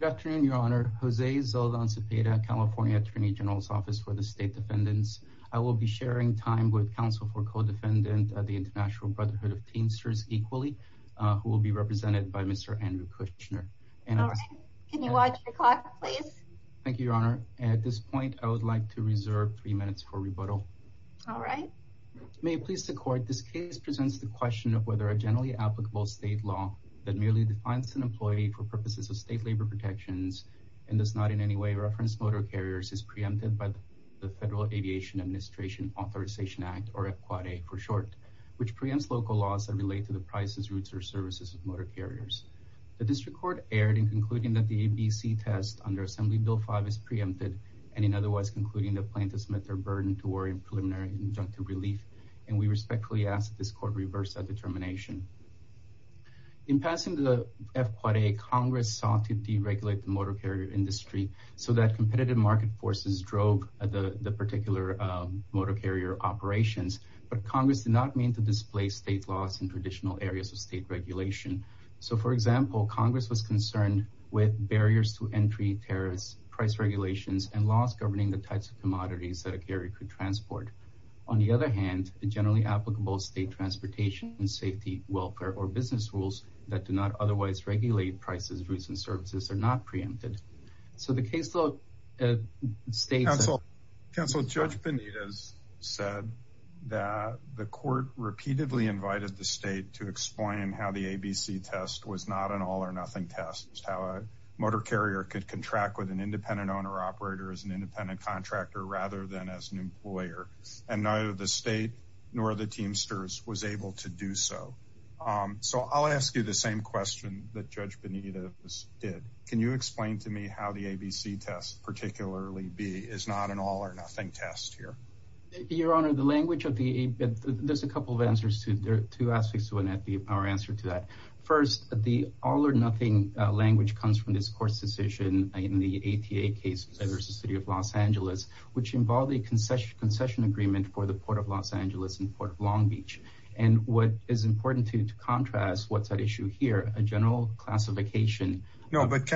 Good afternoon, Your Honor. Jose Zeldon Cepeda, California Attorney General's Office for the State Defendants. I will be sharing time with counsel for co-defendant at the International Brotherhood of Teensters Equally, who will be represented by Mr. Andrew Kushner. All right. Can you watch your clock, please? Thank you, Your Honor. At this point, I would like to reserve three minutes for rebuttal. All right. May it please the Court, this case presents the question of whether a generally applicable state law that merely defines an employee for purposes of state labor protections and does not in any way reference motor carriers is preempted by the Federal Aviation Administration Authorization Act, or EAPQA for short, which preempts local laws that relate to the prices, routes, or services of motor carriers. The District Court erred in concluding that the ABC test under Assembly Bill 5 is preempted and in otherwise concluding the plaintiffs met their burden to worry in preliminary injunctive relief, and we respectfully ask that this Court reverse that determination. In passing the FQA, Congress sought to deregulate the motor carrier industry so that competitive market forces drove the particular motor carrier operations, but Congress did not mean to display state laws in traditional areas of state regulation. So, for example, Congress was concerned with barriers to entry, tariffs, price regulations, and laws governing the types of commodities that a carrier could transport. On the other hand, generally applicable state transportation and safety, welfare, or business rules that do not otherwise regulate prices, routes, and services are not preempted. So the caseload states... Counsel, Judge Benitez said that the Court repeatedly invited the state to explain how the ABC test was not an all-or-nothing test, how a motor carrier could contract with an independent owner-operator as an independent contractor rather than as an employer, and neither the state nor the Teamsters was able to do so. So I'll ask you the same question that Judge Benitez did. Can you explain to me how the ABC test, particularly B, is not an all-or-nothing test here? Your Honor, the language of the... There's a couple of answers to... There are two aspects to our answer to that. First, the all-or-nothing language comes from this Court's decision in the ATA case versus the City of Los Angeles, which involved a concession agreement for the Port of Los Angeles and Port of Long Beach. And what is important to contrast what's at issue here, a general classification... No, but,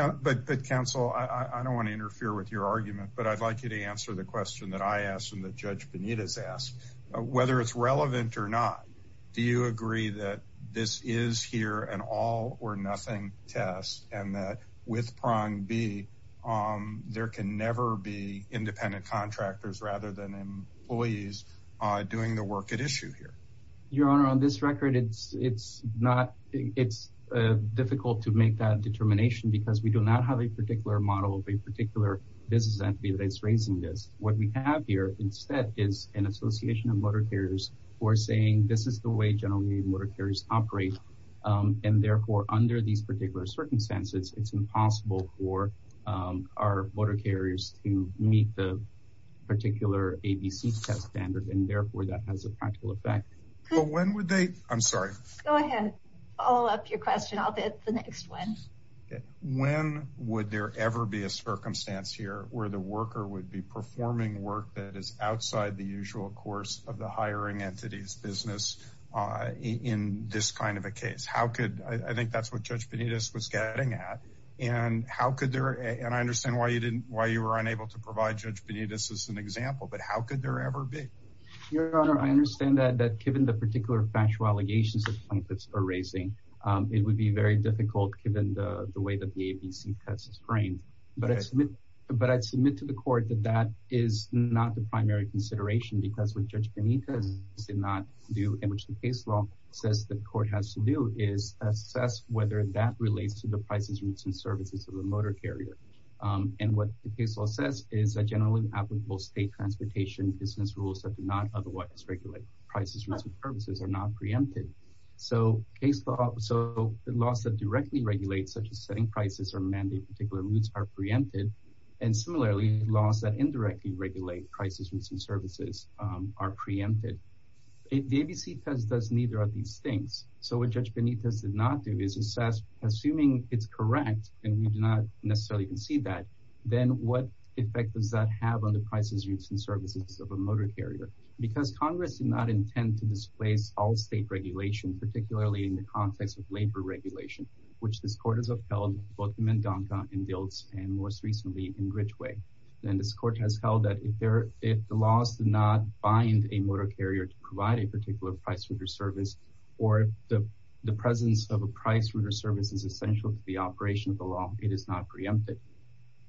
Counsel, I don't want to interfere with your argument, but I'd like you to answer the question that I asked and that Judge Benitez asked. Whether it's relevant or not, do you agree that this is here an all-or-nothing test and that with prong B, there can never be independent contractors rather than employees doing the work at issue here? Your Honor, on this record, it's difficult to make that determination because we do not have a particular model of a particular business entity that is raising this. What we have here instead is an association of motor carriers who are saying, this is the way generally motor carriers operate, and therefore, under these particular circumstances, it's impossible for our motor carriers to meet the particular ABC test standard, and therefore, that has a practical effect. But when would they... I'm sorry. Go ahead. Follow up your question. I'll get the next one. When would there ever be a circumstance here where the worker would be performing work that is outside the usual course of the hiring entity's business in this kind of a case? I think that's what Judge Benitez was getting at, and I understand why you were unable to provide Judge Benitez as an example, but how could there ever be? Your Honor, I understand that given the particular factual allegations that plaintiffs are raising, it would be very difficult given the way that the ABC test is framed, but I'd submit to the court that that is not the primary consideration because what Judge Benitez did not do and which the case law says the court has to do is assess whether that relates to the prices, routes, and services of the motor carrier. And what the case law says is that generally applicable state transportation business rules that do not otherwise regulate prices, routes, and services are not preempted. So the laws that directly regulate such as setting prices or mandate particular routes are preempted, and similarly laws that indirectly regulate prices, routes, and services are preempted. The ABC test does neither of these things. So what Judge Benitez did not do is assess, assuming it's correct and we do not necessarily concede that, then what effect does that have on the prices, routes, and services of a motor carrier? Because Congress did not intend to displace all state regulation, particularly in the context of labor regulation, which this court has upheld, both in Mendonca and Diltz and most recently in Ridgeway. And this court has held that if the laws do not bind a motor carrier to provide a particular price, route, or service or the presence of a price, route, or service is essential to the operation of the law, it is not preempted.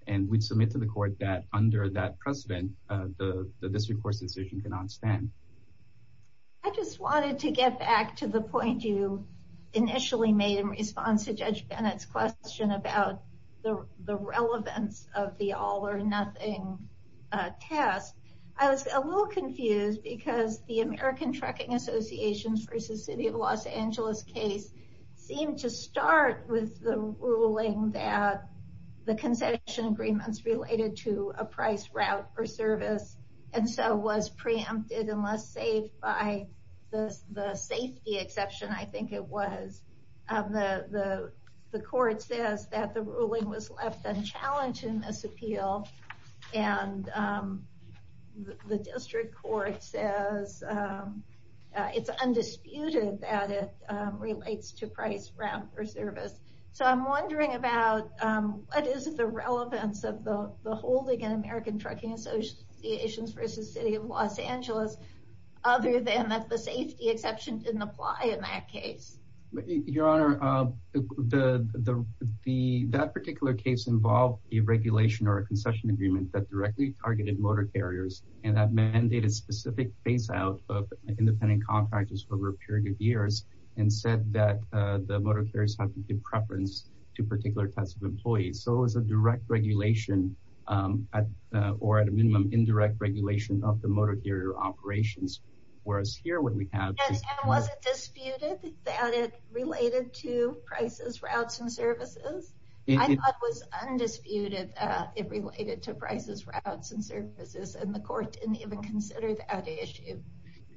And we submit to the court that under that precedent, the district court's decision cannot stand. I just wanted to get back to the point you initially made in response to Judge Benitez' question about the relevance of the all-or-nothing test. I was a little confused because the American Trucking Association v. City of Los Angeles case seemed to start with the ruling that the concession agreements related to a price, route, or service and so was preempted unless saved by the safety exception, I think it was. The court says that the ruling was left unchallenged in this appeal. And the district court says it's undisputed that it relates to price, route, or service. So I'm wondering about what is the relevance of the holding in American Trucking Association v. City of Los Angeles other than that the safety exception didn't apply in that case. Your Honor, that particular case involved a regulation or a concession agreement that directly targeted motor carriers and that mandated specific phase-out of independent contractors over a period of years and said that the motor carriers have to give preference to particular types of employees. So it was a direct regulation or at a minimum indirect regulation of the motor carrier operations. And was it disputed that it related to prices, routes, and services? I thought it was undisputed that it related to prices, routes, and services and the court didn't even consider that issue.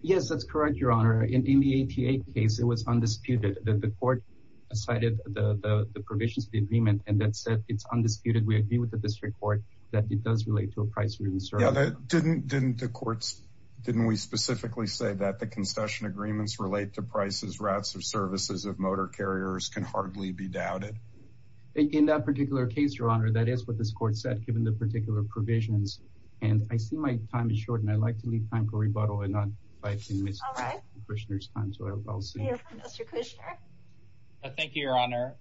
Yes, that's correct, Your Honor. In the APA case, it was undisputed. The court cited the provisions of the agreement and that said it's undisputed. We agree with the district court that it does relate to a price, route, and service. Didn't we specifically say that the concession agreements relate to prices, routes, and services of motor carriers can hardly be doubted? In that particular case, Your Honor, that is what this court said given the particular provisions. And I see my time is short and I'd like to leave time for rebuttal. Thank you, Your Honor.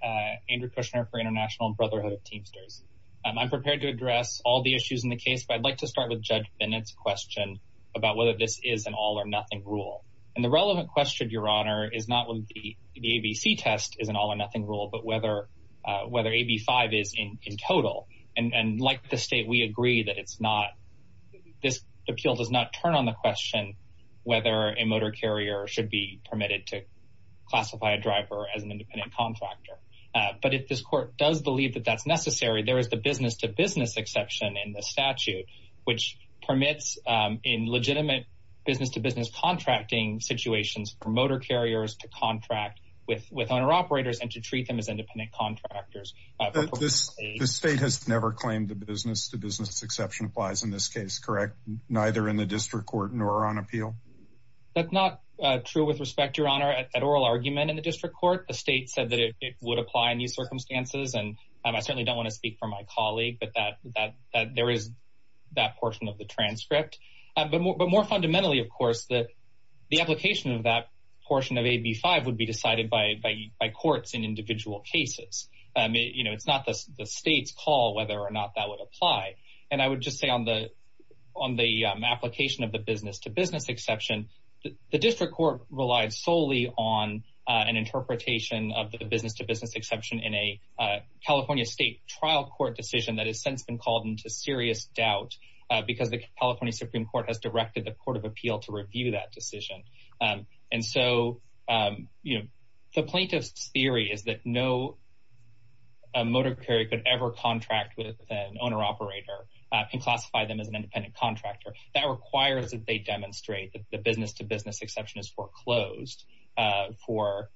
Andrew Kushner for International Brotherhood of Teamsters. I'm prepared to address all the issues in the case, but I'd like to start with Judge Bennett's question about whether this is an all-or-nothing rule. And the relevant question, Your Honor, is not whether the ABC test is an all-or-nothing rule, but whether AB 5 is in total. And like the state, we agree that this appeal does not turn on the question whether a motor carrier should be permitted to classify a driver as an independent contractor. But if this court does believe that that's necessary, there is the business-to-business exception in the statute, which permits in legitimate business-to-business contracting situations for motor carriers to contract with owner-operators and to treat them as independent contractors. The state has never claimed the business-to-business exception applies in this case, correct? Neither in the district court nor on appeal? That's not true with respect, Your Honor, at oral argument in the district court. The state said that it would apply in these circumstances, and I certainly don't want to speak for my colleague, but there is that portion of the transcript. But more fundamentally, of course, the application of that portion of AB 5 would be decided by courts in individual cases. It's not the state's call whether or not that would apply. And I would just say on the application of the business-to-business exception, the district court relied solely on an interpretation of the business-to-business exception in a California state trial court decision that has since been called into serious doubt because the California Supreme Court has directed the Court of Appeal to review that decision. And so the plaintiff's theory is that no motor carrier could ever contract with an owner-operator and classify them as an independent contractor. That requires that they demonstrate that the business-to-business exception is foreclosed for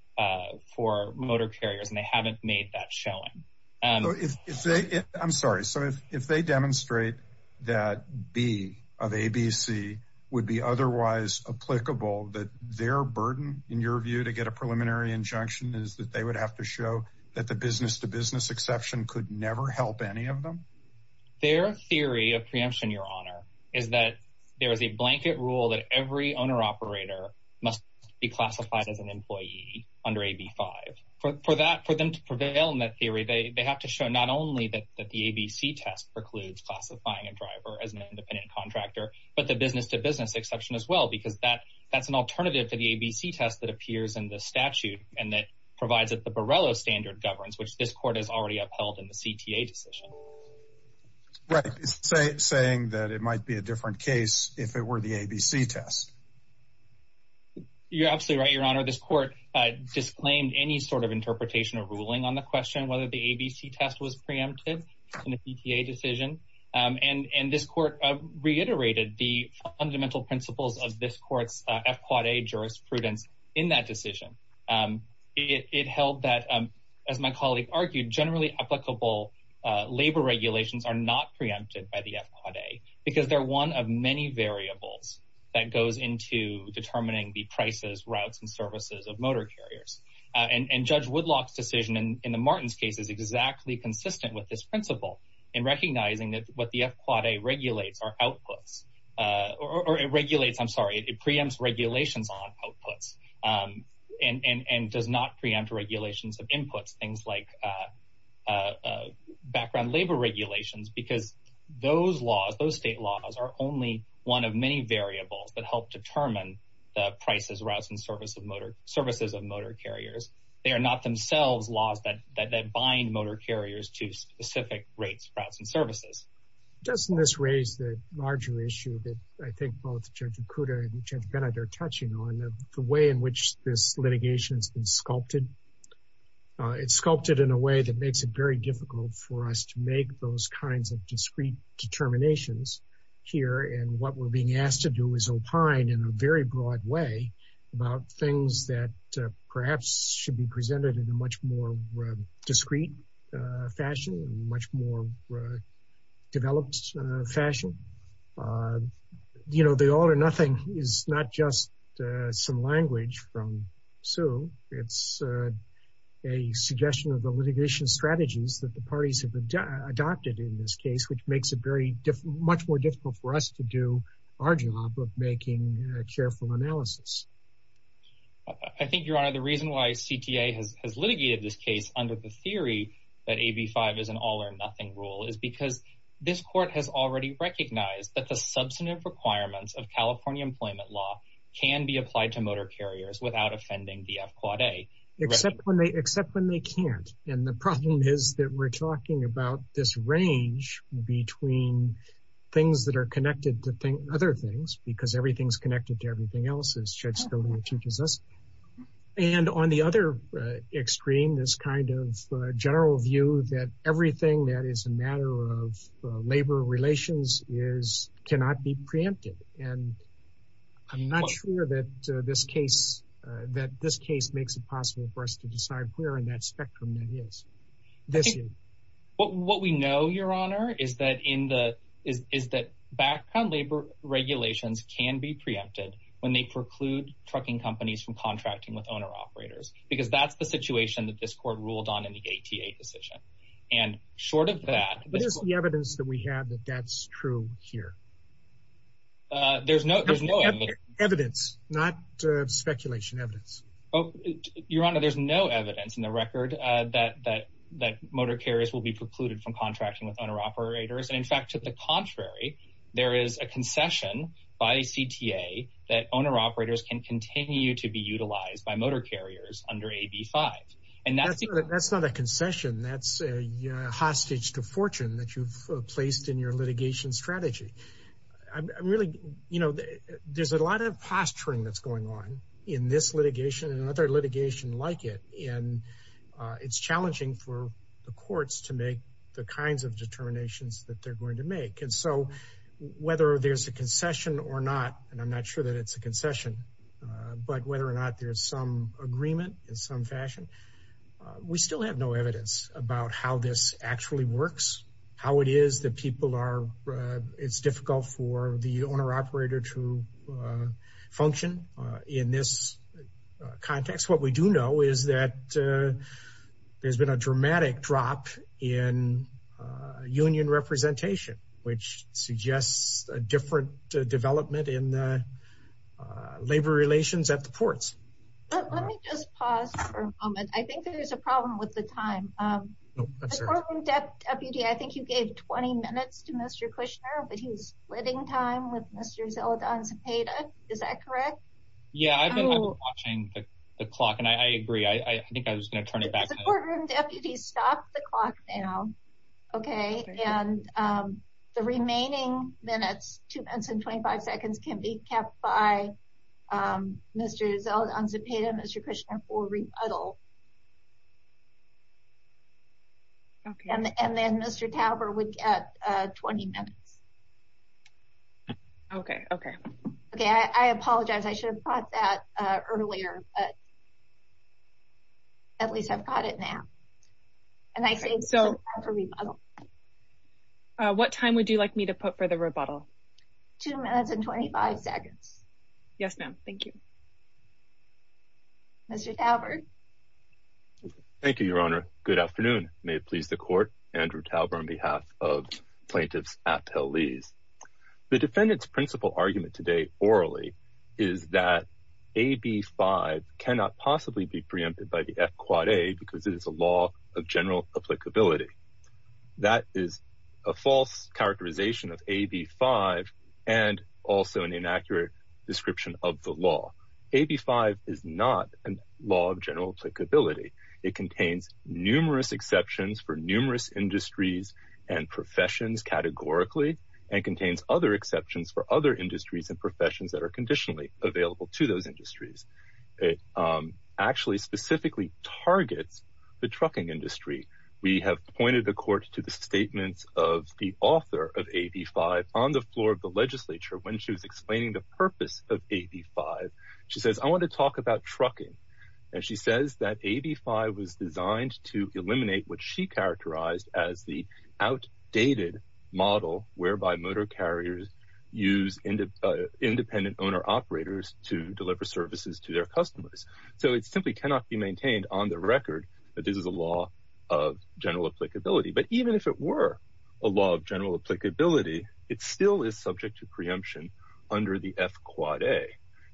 motor carriers, and they haven't made that showing. I'm sorry. So if they demonstrate that B of ABC would be otherwise applicable, that their burden, in your view, to get a preliminary injunction is that they would have to show that the business-to-business exception could never help any of them? Their theory of preemption, Your Honor, is that there is a blanket rule that every owner-operator must be classified as an employee under AB 5. For them to prevail in that theory, they have to show not only that the ABC test precludes classifying a driver as an independent contractor, but the business-to-business exception as well, because that's an alternative to the ABC test that appears in the statute and that provides that the Borrello standard governs, which this court has already upheld in the CTA decision. Right. It's saying that it might be a different case if it were the ABC test. You're absolutely right, Your Honor. This court disclaimed any sort of interpretation or ruling on the question whether the ABC test was preempted in the CTA decision. And this court reiterated the fundamental principles of this court's F-Quad-A jurisprudence in that decision. It held that, as my colleague argued, generally applicable labor regulations are not preempted by the F-Quad-A because they're one of many variables that goes into determining the prices, routes, and services of motor carriers. And Judge Woodlock's decision in the Martins case is exactly consistent with this principle in recognizing that what the F-Quad-A regulates are outputs. Or it regulates, I'm sorry, it preempts regulations on outputs and does not preempt regulations of inputs, things like background labor regulations, because those laws, those state laws, are only one of many variables that help determine the prices, routes, and services of motor carriers. They are not themselves laws that bind motor carriers to specific rates, routes, and services. Doesn't this raise the larger issue that I think both Judge Okuda and Judge Bennett are touching on, the way in which this litigation's been sculpted? It's sculpted in a way that makes it very difficult for us to make those kinds of discrete determinations here. And what we're being asked to do is opine in a very broad way about things that perhaps should be presented in a much more discrete fashion, a much more developed fashion. You know, the all or nothing is not just some language from Sue. It's a suggestion of the litigation strategies that the parties have adopted in this case, which makes it much more difficult for us to do our job of making careful analysis. I think, Your Honor, the reason why CTA has litigated this case under the theory that AB 5 is an all or nothing rule is because this court has already recognized that the substantive requirements of California employment law can be applied to motor carriers without offending the F-Quad A. Except when they can't. And the problem is that we're talking about this range between things that are connected to other things, because everything's connected to everything else, as Judge Scodino teaches us. And on the other extreme, this kind of general view that everything that is a matter of labor relations cannot be preempted. And I'm not sure that this case makes it possible for us to decide where in that spectrum that is. What we know, Your Honor, is that background labor regulations can be preempted when they preclude trucking companies from contracting with owner-operators, because that's the situation that this court ruled on in the ATA decision. And short of that, What is the evidence that we have that that's true here? There's no evidence. Evidence, not speculation. Evidence. Your Honor, there's no evidence in the record that motor carriers will be precluded from contracting with owner-operators. In fact, to the contrary, there is a concession by CTA that owner-operators can continue to be utilized by motor carriers under AB 5. That's not a concession. That's a hostage to fortune that you've placed in your litigation strategy. Really, you know, there's a lot of posturing that's going on in this litigation and another litigation like it. And it's challenging for the courts to make the kinds of determinations that they're going to make. And so whether there's a concession or not, and I'm not sure that it's a concession, but whether or not there's some agreement in some fashion, we still have no evidence about how this actually works, how it is that people are, it's difficult for the owner-operator to function in this context. What we do know is that there's been a dramatic drop in union representation, which suggests a different development in the labor relations at the ports. Let me just pause for a moment. I think there's a problem with the time. Support room deputy, I think you gave 20 minutes to Mr. Kushner, but he was splitting time with Mr. Zeldon Zepeda. Is that correct? Yeah, I've been watching the clock and I agree. I think I was going to turn it back. Support room deputy, stop the clock now. Okay, and the remaining minutes, two minutes and 25 seconds can be kept by Mr. Zeldon Zepeda and Mr. Kushner for rebuttal. And then Mr. Tauberg would get 20 minutes. Okay, okay. Okay, I apologize. I should have caught that earlier, but at least I've got it now. And I think so for rebuttal. What time would you like me to put for the rebuttal? Two minutes and 25 seconds. Yes, ma'am. Thank you. Mr. Tauberg. Thank you, Your Honor. Good afternoon. May it please the court. Andrew Tauberg on behalf of plaintiffs appellees. The defendant's principal argument today orally is that AB 5 cannot possibly be preempted by the F quad A because it is a law of general applicability. That is a false characterization of AB 5 and also an inaccurate description of the law. AB 5 is not a law of general applicability. It contains numerous exceptions for numerous industries and professions categorically and contains other exceptions for other industries and professions that are conditionally available to those industries. It actually specifically targets the trucking industry. We have pointed the court to the statements of the author of AB 5 on the floor of the legislature when she was explaining the purpose of AB 5. She says, I want to talk about trucking. And she says that AB 5 was designed to eliminate what she characterized as the outdated model whereby motor carriers use independent owner operators to deliver services to their customers. So it simply cannot be maintained on the record that this is a law of general applicability. But even if it were a law of general applicability, it still is subject to preemption under the F quad A.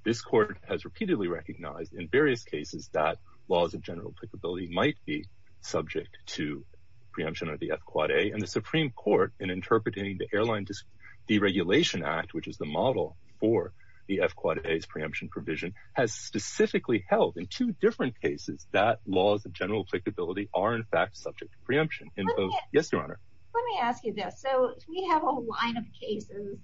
This court has repeatedly recognized in various cases that laws of general applicability might be subject to preemption of the F quad A. And the Supreme Court in interpreting the Airline Deregulation Act, which is the model for the F quad A's preemption provision, has specifically held in two different cases that laws of general applicability are in fact subject to preemption. Yes, Your Honor. Let me ask you this. So we have a line of cases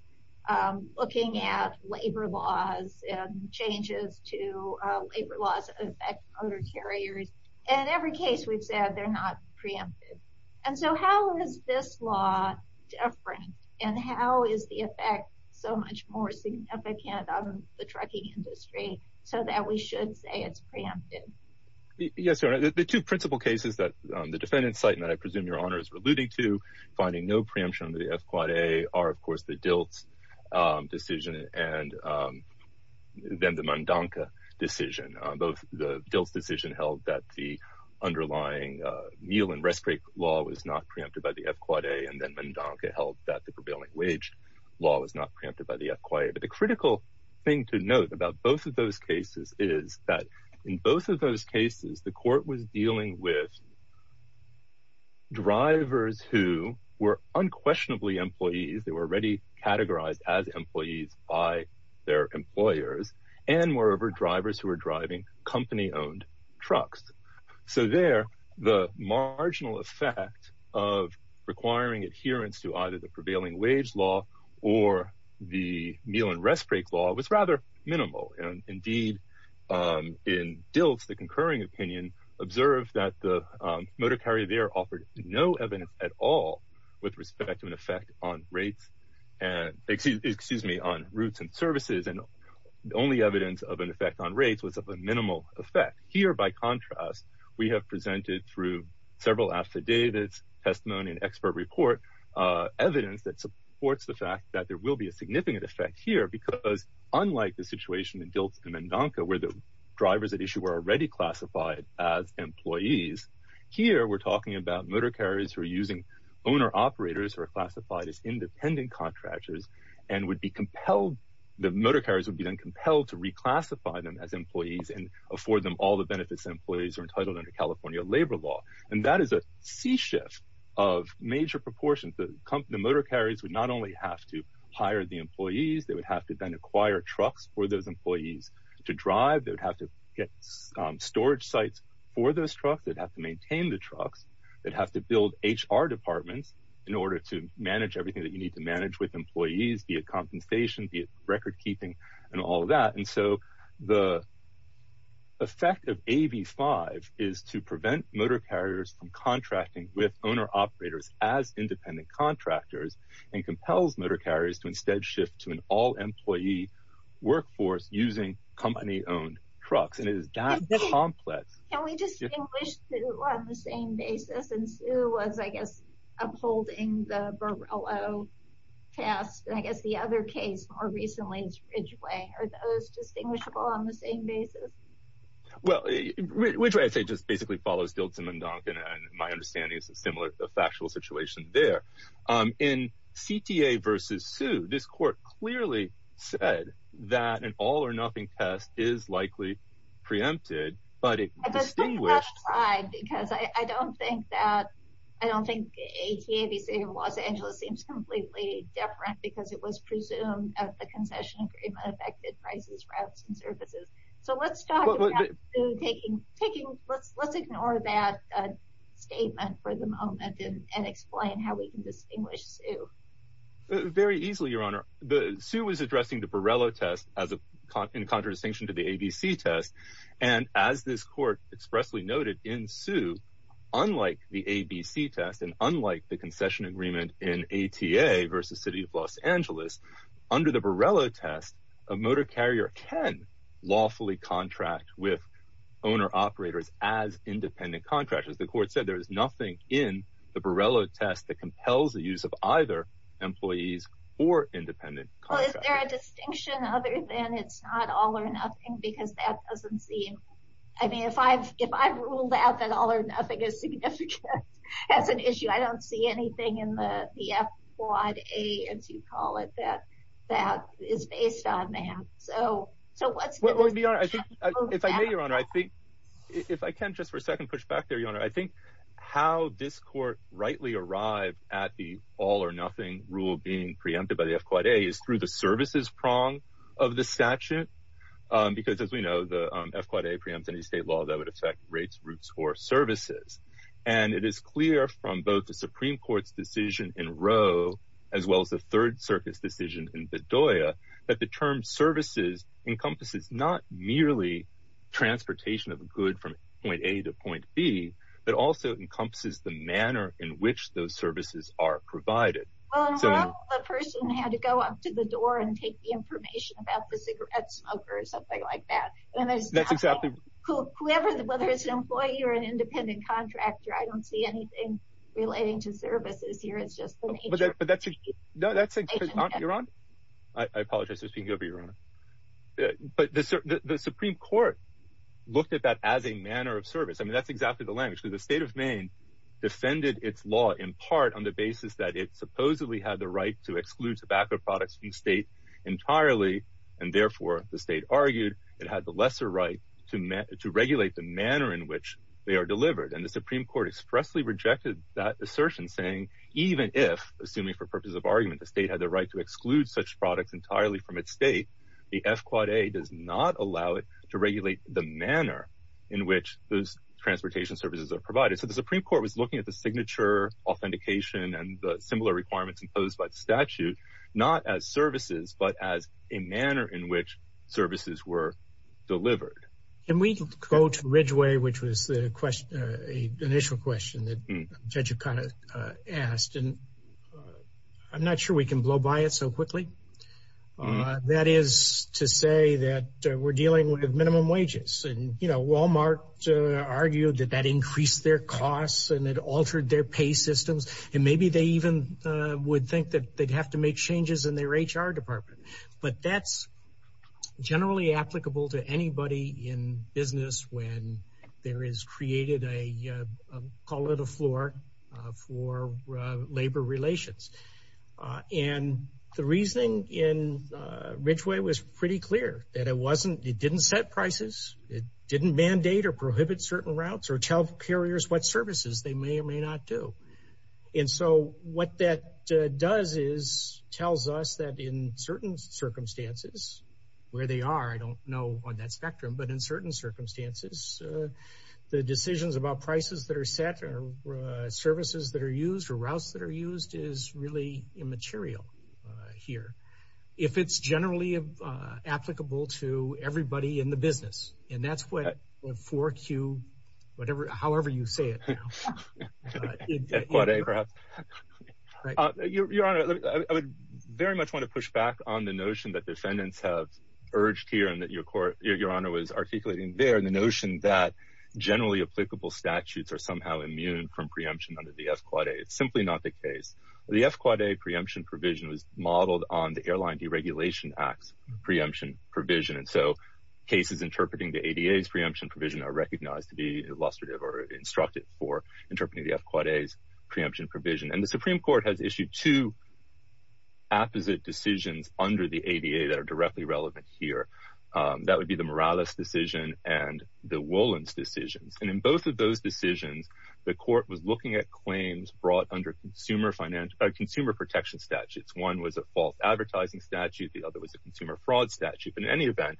looking at labor laws and changes to labor laws that affect motor carriers. And in every case we've said they're not preempted. And so how is this law different? And how is the effect so much more significant on the trucking industry so that we should say it's preempted? Yes, Your Honor. The two principal cases that the defendants cite and that I presume Your Honor is alluding to, finding no preemption under the F quad A, are of course the Diltz decision and then the Mondanka decision. Both the Diltz decision held that the underlying meal and rest break law was not preempted by the F quad A, and then Mondanka held that the prevailing wage law was not preempted by the F quad A. But the critical thing to note about both of those cases is that in both of those cases, the court was dealing with drivers who were unquestionably employees. They were already categorized as employees by their employers and moreover drivers who were driving company owned trucks. So there, the marginal effect of requiring adherence to either the prevailing wage law or the meal and rest break law was rather minimal. And indeed, in Diltz, the concurring opinion observed that the motor carrier there offered no evidence at all with respect to an effect on rates and, excuse me, on routes and services. And the only evidence of an effect on rates was of a minimal effect. Here, by contrast, we have presented through several affidavits, testimony and expert report, evidence that supports the fact that there will be a significant effect here. Because unlike the situation in Diltz and Mondanka where the drivers at issue were already classified as employees. Here, we're talking about motor carriers who are using owner operators who are classified as independent contractors and would be compelled. The motor carriers would be then compelled to reclassify them as employees and afford them all the benefits employees are entitled under California labor law. And that is a sea shift of major proportions. The motor carriers would not only have to hire the employees, they would have to then acquire trucks for those employees to drive. They would have to get storage sites for those trucks. They'd have to maintain the trucks. They'd have to build HR departments in order to manage everything that you need to manage with employees, be it compensation, be it record keeping and all of that. And so the effect of AB5 is to prevent motor carriers from contracting with owner operators as independent contractors and compels motor carriers to instead shift to an all employee workforce using company owned trucks. And it is that complex. Can we distinguish Sue on the same basis? And Sue was, I guess, upholding the Borrello test. I guess the other case more recently is Ridgway. Are those distinguishable on the same basis? Well, Ridgway, I'd say, just basically follows Diltz and Mondanka. And my understanding is a similar factual situation there. In CTA versus Sue, this court clearly said that an all or nothing test is likely preempted. I don't think that's right because I don't think that, I don't think CTA versus Los Angeles seems completely different because it was presumed that the concession agreement affected prices, routes and services. So let's talk about Sue taking, let's ignore that statement for the moment and explain how we can distinguish Sue. Sue was addressing the Borrello test in contradistinction to the ABC test. And as this court expressly noted in Sue, unlike the ABC test and unlike the concession agreement in ATA versus City of Los Angeles, under the Borrello test, a motor carrier can lawfully contract with owner operators as independent contractors. The court said there is nothing in the Borrello test that compels the use of either employees or independent contractors. Is there a distinction other than it's not all or nothing because that doesn't seem, I mean, if I've ruled out that all or nothing is significant as an issue, I don't see anything in the F-Quad A, as you call it, that is based on that. If I may, Your Honor, if I can just for a second push back there, Your Honor, I think how this court rightly arrived at the all or nothing rule being preempted by the F-Quad A is through the services prong of the statute. Because as we know, the F-Quad A preempts any state law that would affect rates, routes, or services. And it is clear from both the Supreme Court's decision in Roe as well as the Third Circuit's decision in Bedoya that the term services encompasses not merely transportation of a good from point A to point B, but also encompasses the manner in which those services are provided. Well, in Roe, the person had to go up to the door and take the information about the cigarette smoker or something like that. That's exactly right. Whoever, whether it's an employee or an independent contractor, I don't see anything relating to services here. It's just the nature of the situation. Your Honor, I apologize for speaking over you, Your Honor. But the Supreme Court looked at that as a manner of service. I mean, that's exactly the language. The state of Maine defended its law in part on the basis that it supposedly had the right to exclude tobacco products from the state entirely. And therefore, the state argued it had the lesser right to regulate the manner in which they are delivered. And the Supreme Court expressly rejected that assertion, saying even if, assuming for purposes of argument, the state had the right to exclude such products entirely from its state, the F-Quad A does not allow it to regulate the manner in which those transportation services are provided. So the Supreme Court was looking at the signature authentication and the similar requirements imposed by the statute not as services, but as a manner in which services were delivered. Can we go to Ridgeway, which was the initial question that Judge O'Connor asked? And I'm not sure we can blow by it so quickly. That is to say that we're dealing with minimum wages. And, you know, Walmart argued that that increased their costs and it altered their pay systems. And maybe they even would think that they'd have to make changes in their HR department. But that's generally applicable to anybody in business when there is created a, call it a floor, for labor relations. And the reasoning in Ridgeway was pretty clear, that it didn't set prices. It didn't mandate or prohibit certain routes or tell carriers what services they may or may not do. And so what that does is tells us that in certain circumstances, where they are, I don't know on that spectrum, but in certain circumstances, the decisions about prices that are set or services that are used or routes that are used is really immaterial here. If it's generally applicable to everybody in the business. And that's what 4Q, however you say it. Your Honor, I would very much want to push back on the notion that defendants have urged here and that your Honor was articulating there. And the notion that generally applicable statutes are somehow immune from preemption under the F-Quad A. It's simply not the case. The F-Quad A preemption provision was modeled on the Airline Deregulation Act's preemption provision. And so cases interpreting the ADA's preemption provision are recognized to be illustrative or instructive for interpreting the F-Quad A's preemption provision. And the Supreme Court has issued two apposite decisions under the ADA that are directly relevant here. That would be the Morales decision and the Wolins decisions. And in both of those decisions, the court was looking at claims brought under consumer protection statutes. One was a false advertising statute. The other was a consumer fraud statute. But in any event,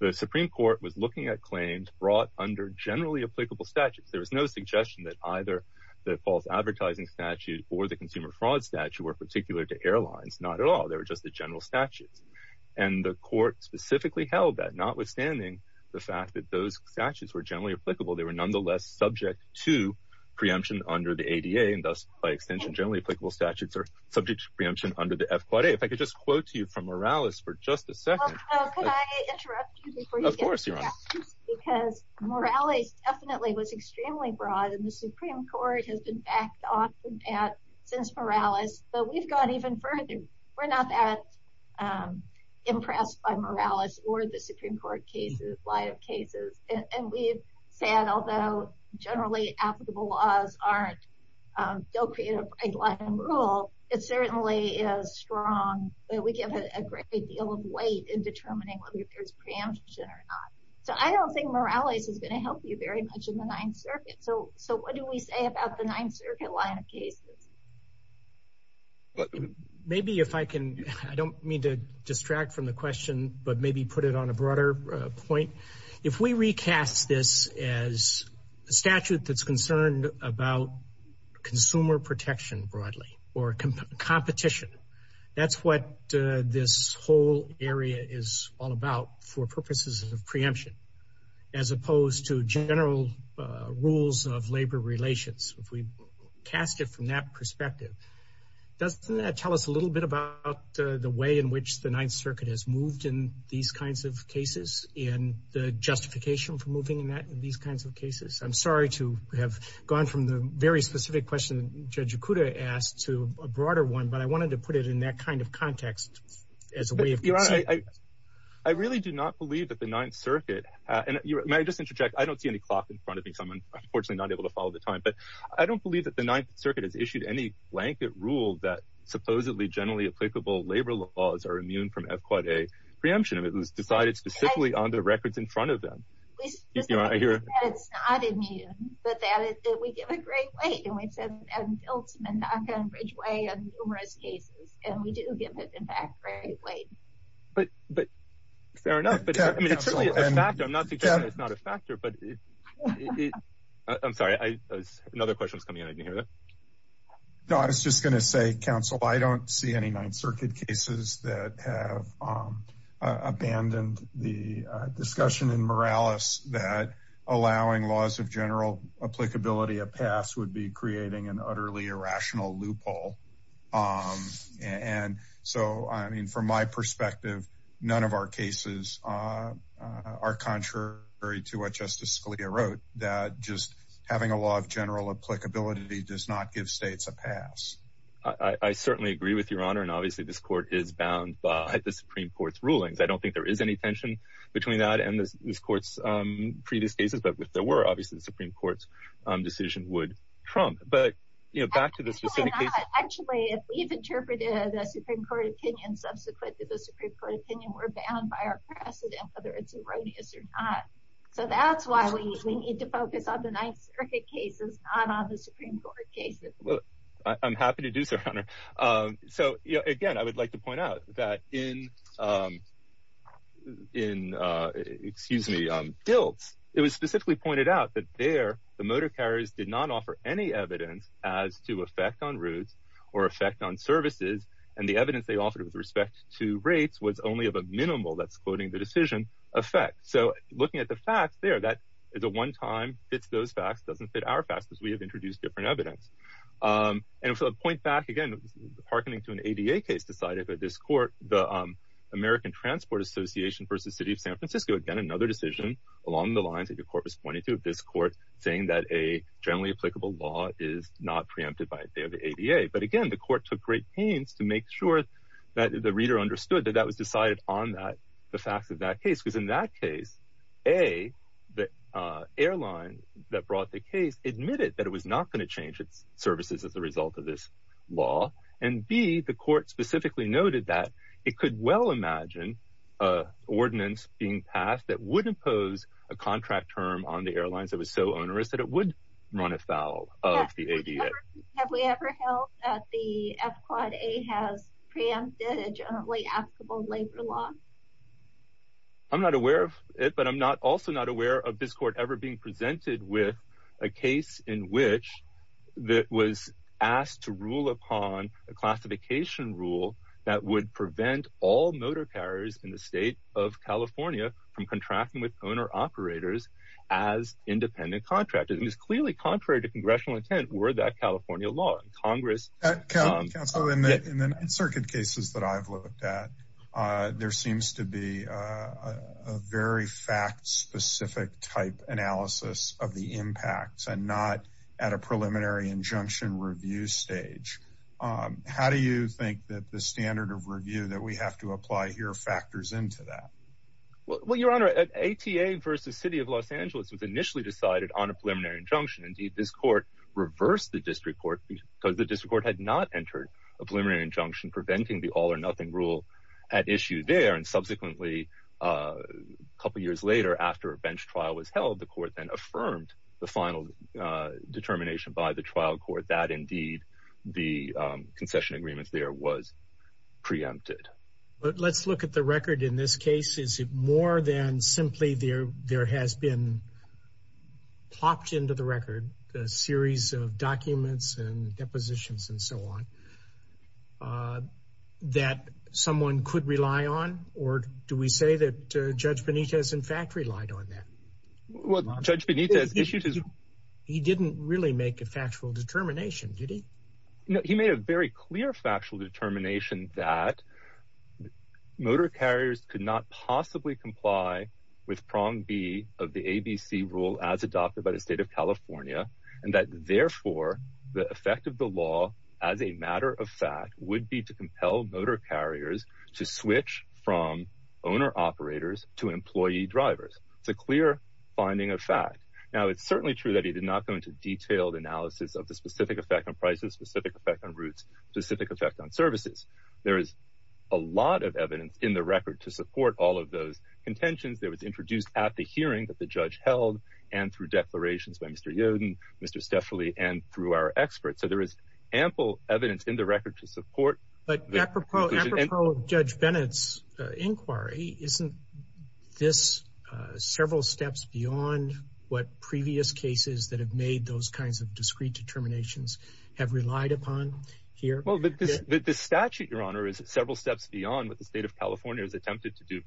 the Supreme Court was looking at claims brought under generally applicable statutes. There was no suggestion that either the false advertising statute or the consumer fraud statute were particular to airlines. Not at all. They were just the general statutes. And the court specifically held that, notwithstanding the fact that those statutes were generally applicable. They were nonetheless subject to preemption under the ADA and thus, by extension, generally applicable statutes are subject to preemption under the F-Quad A. If I could just quote to you from Morales for just a second. Could I interrupt you before you get started? Of course, Your Honor. Because Morales definitely was extremely broad. And the Supreme Court has been backed off of that since Morales. But we've gone even further. We're not that impressed by Morales or the Supreme Court cases, line of cases. And we've said, although generally applicable laws don't create a right line of rule, it certainly is strong. We give it a great deal of weight in determining whether there's preemption or not. So I don't think Morales is going to help you very much in the Ninth Circuit. So what do we say about the Ninth Circuit line of cases? Maybe if I can, I don't mean to distract from the question, but maybe put it on a broader point. If we recast this as a statute that's concerned about consumer protection broadly or competition, that's what this whole area is all about for purposes of preemption, as opposed to general rules of labor relations. If we cast it from that perspective, doesn't that tell us a little bit about the way in which the Ninth Circuit has moved in these kinds of cases and the justification for moving in these kinds of cases? I'm sorry to have gone from the very specific question Judge Okuda asked to a broader one, but I wanted to put it in that kind of context as a way of conceding. Your Honor, I really do not believe that the Ninth Circuit, and may I just interject? I don't see any clock in front of me, so I'm unfortunately not able to follow the time, but I don't believe that the Ninth Circuit has issued any blanket rule that supposedly generally applicable labor laws are immune from FQA preemption. It was decided specifically on the records in front of them. It's not immune, but that is that we give a great weight, and we've said that in Biltzman, NACA, and Ridgeway and numerous cases, and we do give, in fact, a great weight. Fair enough, but it's certainly a factor. I'm not suggesting it's not a factor. I'm sorry, another question was coming in. I didn't hear that. No, I was just going to say, Counsel, I don't see any Ninth Circuit cases that have abandoned the discussion in Morales that allowing laws of general applicability of pass would be creating an utterly irrational loophole. And so, I mean, from my perspective, none of our cases are contrary to what Justice Scalia wrote, that just having a law of general applicability does not give states a pass. I certainly agree with Your Honor, and obviously this court is bound by the Supreme Court's rulings. I don't think there is any tension between that and this court's previous cases, but if there were, obviously the Supreme Court's decision would trump. Actually, if we've interpreted the Supreme Court opinion subsequent to the Supreme Court opinion, we're bound by our precedent, whether it's erroneous or not. So that's why we need to focus on the Ninth Circuit cases, not on the Supreme Court cases. I'm happy to do so, Your Honor. So, again, I would like to point out that in, excuse me, Biltz, it was specifically pointed out that there the motor carriers did not offer any evidence as to effect on routes or effect on services, and the evidence they offered with respect to rates was only of a minimal, that's quoting the decision, effect. So, looking at the facts there, that is a one-time, fits those facts, doesn't fit our facts, because we have introduced different evidence. And to point back, again, hearkening to an ADA case decided by this court, the American Transport Association v. City of San Francisco, again, another decision along the lines that your court was pointing to, this court saying that a generally applicable law is not preempted by the ADA. But, again, the court took great pains to make sure that the reader understood that that was decided on that, the facts of that case, because in that case, A, the airline that brought the case admitted that it was not going to change its services as a result of this law, and B, the court specifically noted that it could well imagine an ordinance being passed that would impose a contract term on the airlines that was so onerous that it would run afoul of the ADA. Have we ever held that the F-Quad A has preempted a generally applicable labor law? I'm not aware of it, but I'm also not aware of this court ever being presented with a case in which it was asked to rule upon a classification rule that would prevent all motor carriers in the state of California from contracting with owner-operators as independent contractors. It was clearly contrary to congressional intent were that California law. Counsel, in the Ninth Circuit cases that I've looked at, there seems to be a very fact-specific type analysis of the impacts and not at a preliminary injunction review stage. How do you think that the standard of review that we have to apply here factors into that? Well, Your Honor, an ADA versus City of Los Angeles was initially decided on a preliminary injunction. Indeed, this court reversed the district court because the district court had not entered a preliminary injunction preventing the all-or-nothing rule at issue there. And subsequently, a couple years later, after a bench trial was held, the court then affirmed the final determination by the trial court that, indeed, the concession agreement there was preempted. But let's look at the record in this case. Is it more than simply there has been plopped into the record a series of documents and depositions and so on that someone could rely on? Or do we say that Judge Benitez, in fact, relied on that? Well, Judge Benitez issued his... He didn't really make a factual determination, did he? No, he made a very clear factual determination that motor carriers could not possibly comply with prong B of the ABC rule as adopted by the State of California, and that, therefore, the effect of the law, as a matter of fact, would be to compel motor carriers to switch from owner-operators to employee-drivers. It's a clear finding of fact. Now, it's certainly true that he did not go into detailed analysis of the specific effect on prices, specific effect on routes, specific effect on services. There is a lot of evidence in the record to support all of those contentions. They were introduced at the hearing that the judge held and through declarations by Mr. Yoden, Mr. Steffoli, and through our experts. So there is ample evidence in the record to support... Isn't this several steps beyond what previous cases that have made those kinds of discrete determinations have relied upon here? Well, the statute, Your Honor, is several steps beyond what the State of California has attempted to do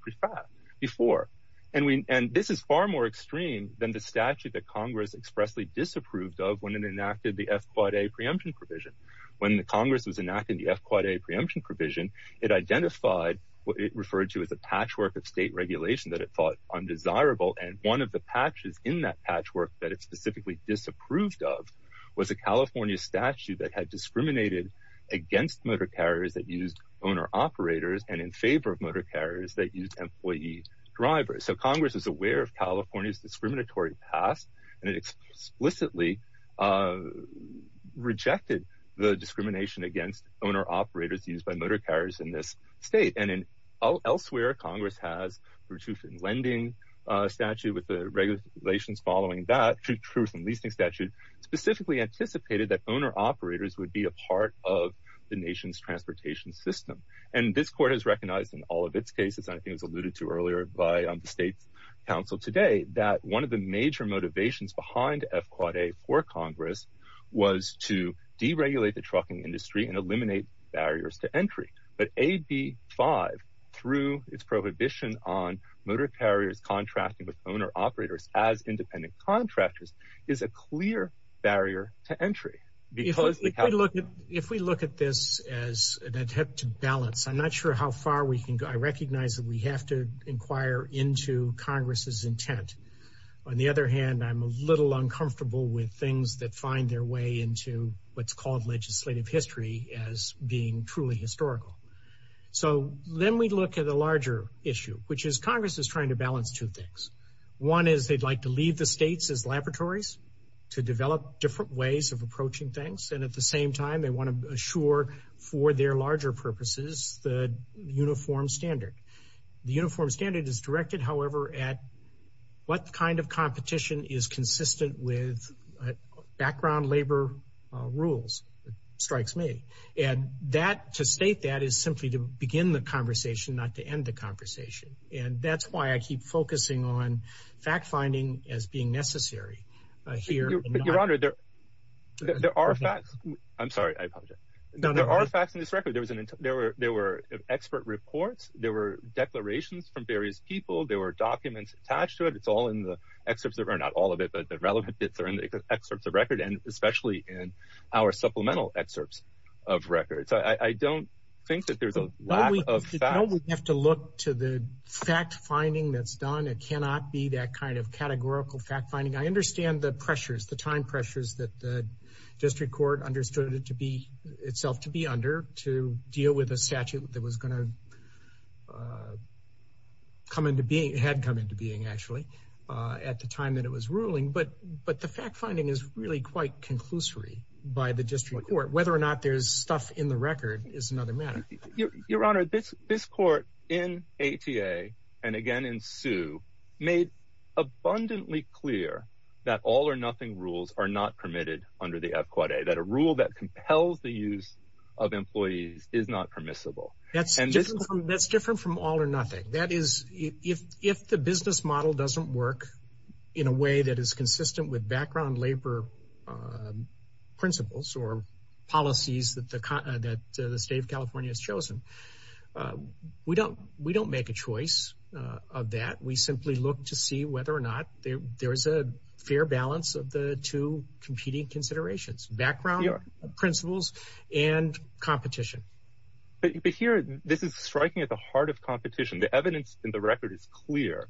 before. And this is far more extreme than the statute that Congress expressly disapproved of when it enacted the F-Quad A preemption provision. When Congress was enacting the F-Quad A preemption provision, it identified what it referred to as a patchwork of state regulation that it thought undesirable. And one of the patches in that patchwork that it specifically disapproved of was a California statute that had discriminated against motor carriers that used owner-operators and in favor of motor carriers that used employee-drivers. So Congress is aware of California's discriminatory past and it explicitly rejected the discrimination against owner-operators used by motor carriers in this state. And elsewhere, Congress has, through Truth in Lending statute, with the regulations following that, Truth in Leasing statute, specifically anticipated that owner-operators would be a part of the nation's transportation system. And this court has recognized in all of its cases, and I think it was alluded to earlier by the State's counsel today, that one of the major motivations behind F-Quad A for Congress was to deregulate the trucking industry and eliminate barriers to entry. But AB 5, through its prohibition on motor carriers contracting with owner-operators as independent contractors, is a clear barrier to entry. If we look at this as an attempt to balance, I'm not sure how far we can go. I recognize that we have to inquire into Congress's intent. On the other hand, I'm a little uncomfortable with things that find their way into what's called legislative history as being truly historical. So then we look at a larger issue, which is Congress is trying to balance two things. One is they'd like to leave the states as laboratories to develop different ways of approaching things. And at the same time, they want to assure for their larger purposes the uniform standard. The uniform standard is directed, however, at what kind of competition is consistent with background labor rules. It strikes me. And to state that is simply to begin the conversation, not to end the conversation. And that's why I keep focusing on fact-finding as being necessary here. Your Honor, there are facts. I'm sorry. I apologize. There are facts in this record. There were expert reports. There were declarations from various people. There were documents attached to it. It's all in the excerpts. Not all of it, but the relevant bits are in the excerpts of record, and especially in our supplemental excerpts of record. So I don't think that there's a lack of facts. You don't have to look to the fact-finding that's done. It cannot be that kind of categorical fact-finding. I understand the pressures, the time pressures that the district court understood itself to be under to deal with a statute that was going to come into being, had come into being, actually, at the time that it was ruling. But the fact-finding is really quite conclusory by the district court. Whether or not there's stuff in the record is another matter. Your Honor, this court in ATA, and again in Sue, made abundantly clear that all-or-nothing rules are not permitted under the F-Quad A, that a rule that compels the use of employees is not permissible. That's different from all-or-nothing. That is, if the business model doesn't work in a way that is consistent with background labor principles or policies that the state of California has chosen, we don't make a choice of that. We simply look to see whether or not there is a fair balance of the two competing considerations, background principles and competition. But here, this is striking at the heart of competition. The evidence in the record is clear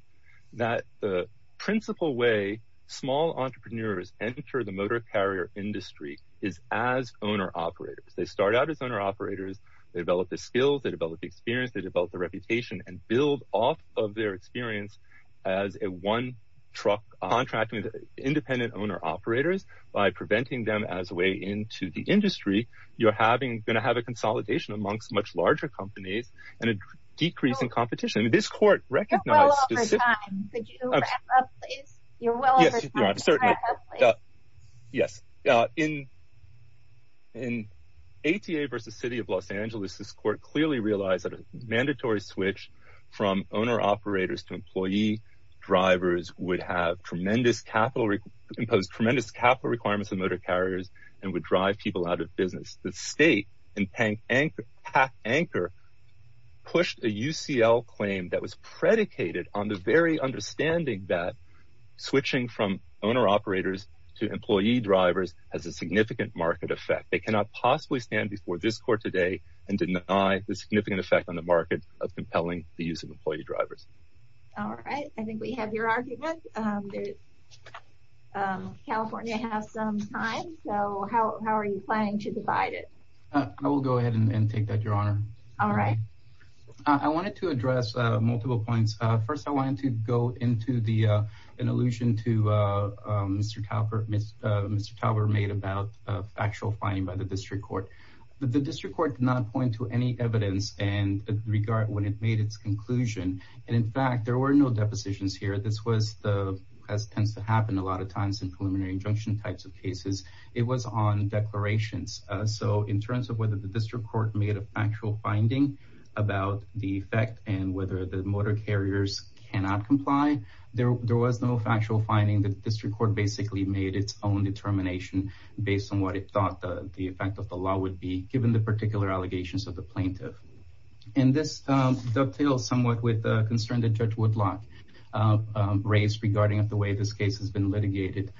that the principal way small entrepreneurs enter the motor carrier industry is as owner-operators. They start out as owner-operators. They develop the skills. They develop the experience. They develop the reputation and build off of their experience as a one-truck contract with independent owner-operators. By preventing them as a way into the industry, you're going to have a consolidation amongst much larger companies and a decrease in competition. You're well over time. Could you wrap up, please? You're well over time. Could you wrap up, please? Yes. In ATA v. City of Los Angeles, this court clearly realized that a mandatory switch from owner-operators to employee-drivers would impose tremendous capital requirements on motor carriers and would drive people out of business. The state and PAC anchor pushed a UCL claim that was predicated on the very understanding that switching from owner-operators to employee-drivers has a significant market effect. They cannot possibly stand before this court today and deny the significant effect on the market of compelling the use of employee-drivers. All right. I think we have your argument. California has some time, so how are you planning to divide it? I will go ahead and take that, Your Honor. All right. I wanted to address multiple points. First, I wanted to go into an allusion to Mr. Talbert made about factual finding by the district court. The district court did not point to any evidence in regard when it made its conclusion. In fact, there were no depositions here. This tends to happen a lot of times in preliminary injunction types of cases. It was on declarations. In terms of whether the district court made a factual finding about the effect and whether the motor carriers cannot comply, there was no factual finding. The district court basically made its own determination based on what it thought the effect of the law would be given the particular allegations of the plaintiff. And this dovetails somewhat with the concern that Judge Woodlock raised regarding the way this case has been litigated.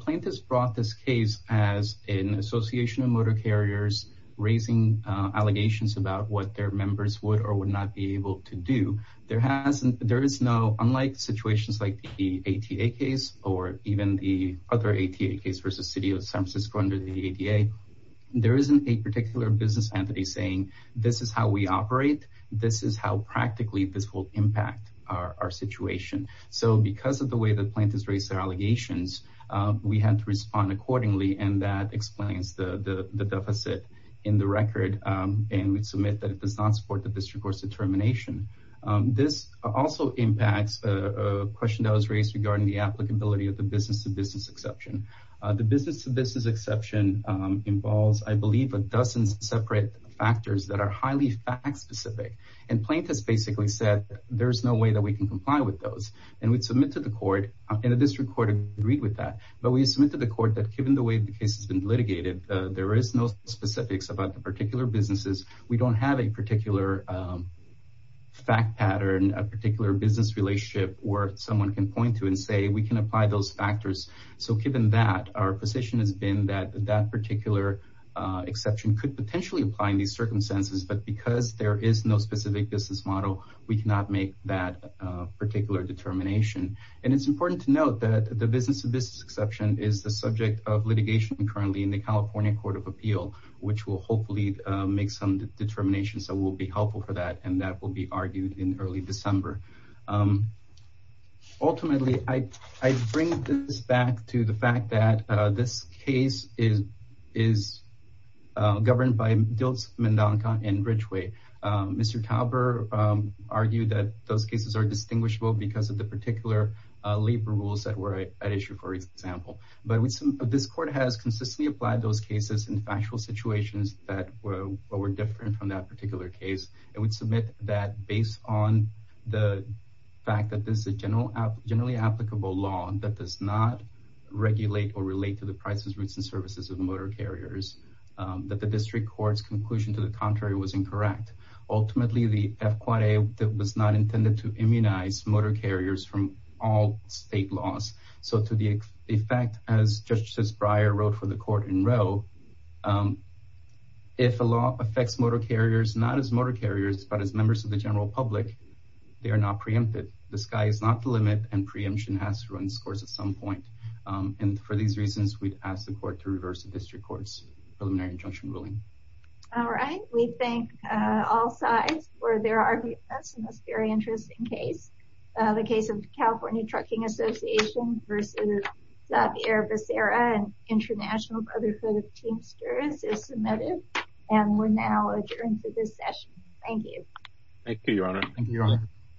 Plaintiffs brought this case as an association of motor carriers raising allegations about what their members would or would not be able to do. There is no, unlike situations like the ATA case or even the other ATA case versus City of San Francisco under the ADA, there isn't a particular business entity saying this is how we operate, this is how practically this will impact our situation. So because of the way the plaintiffs raised their allegations, we had to respond accordingly, and that explains the deficit in the record. And we submit that it does not support the district court's determination. This also impacts a question that was raised regarding the applicability of the business-to-business exception. The business-to-business exception involves, I believe, a dozen separate factors that are highly fact-specific. And plaintiffs basically said there's no way that we can comply with those. And we submit to the court, and the district court agreed with that, but we submit to the court that given the way the case has been litigated, there is no specifics about the particular businesses. We don't have a particular fact pattern, a particular business relationship where someone can point to and say we can apply those factors. So given that, our position has been that that particular exception could potentially apply in these circumstances, but because there is no specific business model, we cannot make that particular determination. And it's important to note that the business-to-business exception is the subject of litigation currently in the California Court of Appeal, which will hopefully make some determinations that will be helpful for that, and that will be argued in early December. Ultimately, I bring this back to the fact that this case is governed by Diltz, Mendonca, and Ridgeway. Mr. Tauber argued that those cases are distinguishable because of the particular labor rules that were at issue, for example. But this court has consistently applied those cases in factual situations that were different from that particular case, and would submit that based on the fact that this is a generally applicable law that does not regulate or relate to the prices, routes, and services of motor carriers, that the district court's conclusion to the contrary was incorrect. Ultimately, the FQA was not intended to immunize motor carriers from all state laws. So to the effect, as Justice Breyer wrote for the court in Roe, if a law affects motor carriers not as motor carriers, but as members of the general public, they are not preempted. The sky is not the limit, and preemption has to run its course at some point. For these reasons, we'd ask the court to reverse the district court's preliminary injunction ruling. All right. We thank all sides for their arguments in this very interesting case, the case of the California Trucking Association versus Xavier Becerra and International Brotherhood of Teamsters is submitted, and we're now adjourned for this session. Thank you. Thank you, Your Honor. Thank you, Your Honor.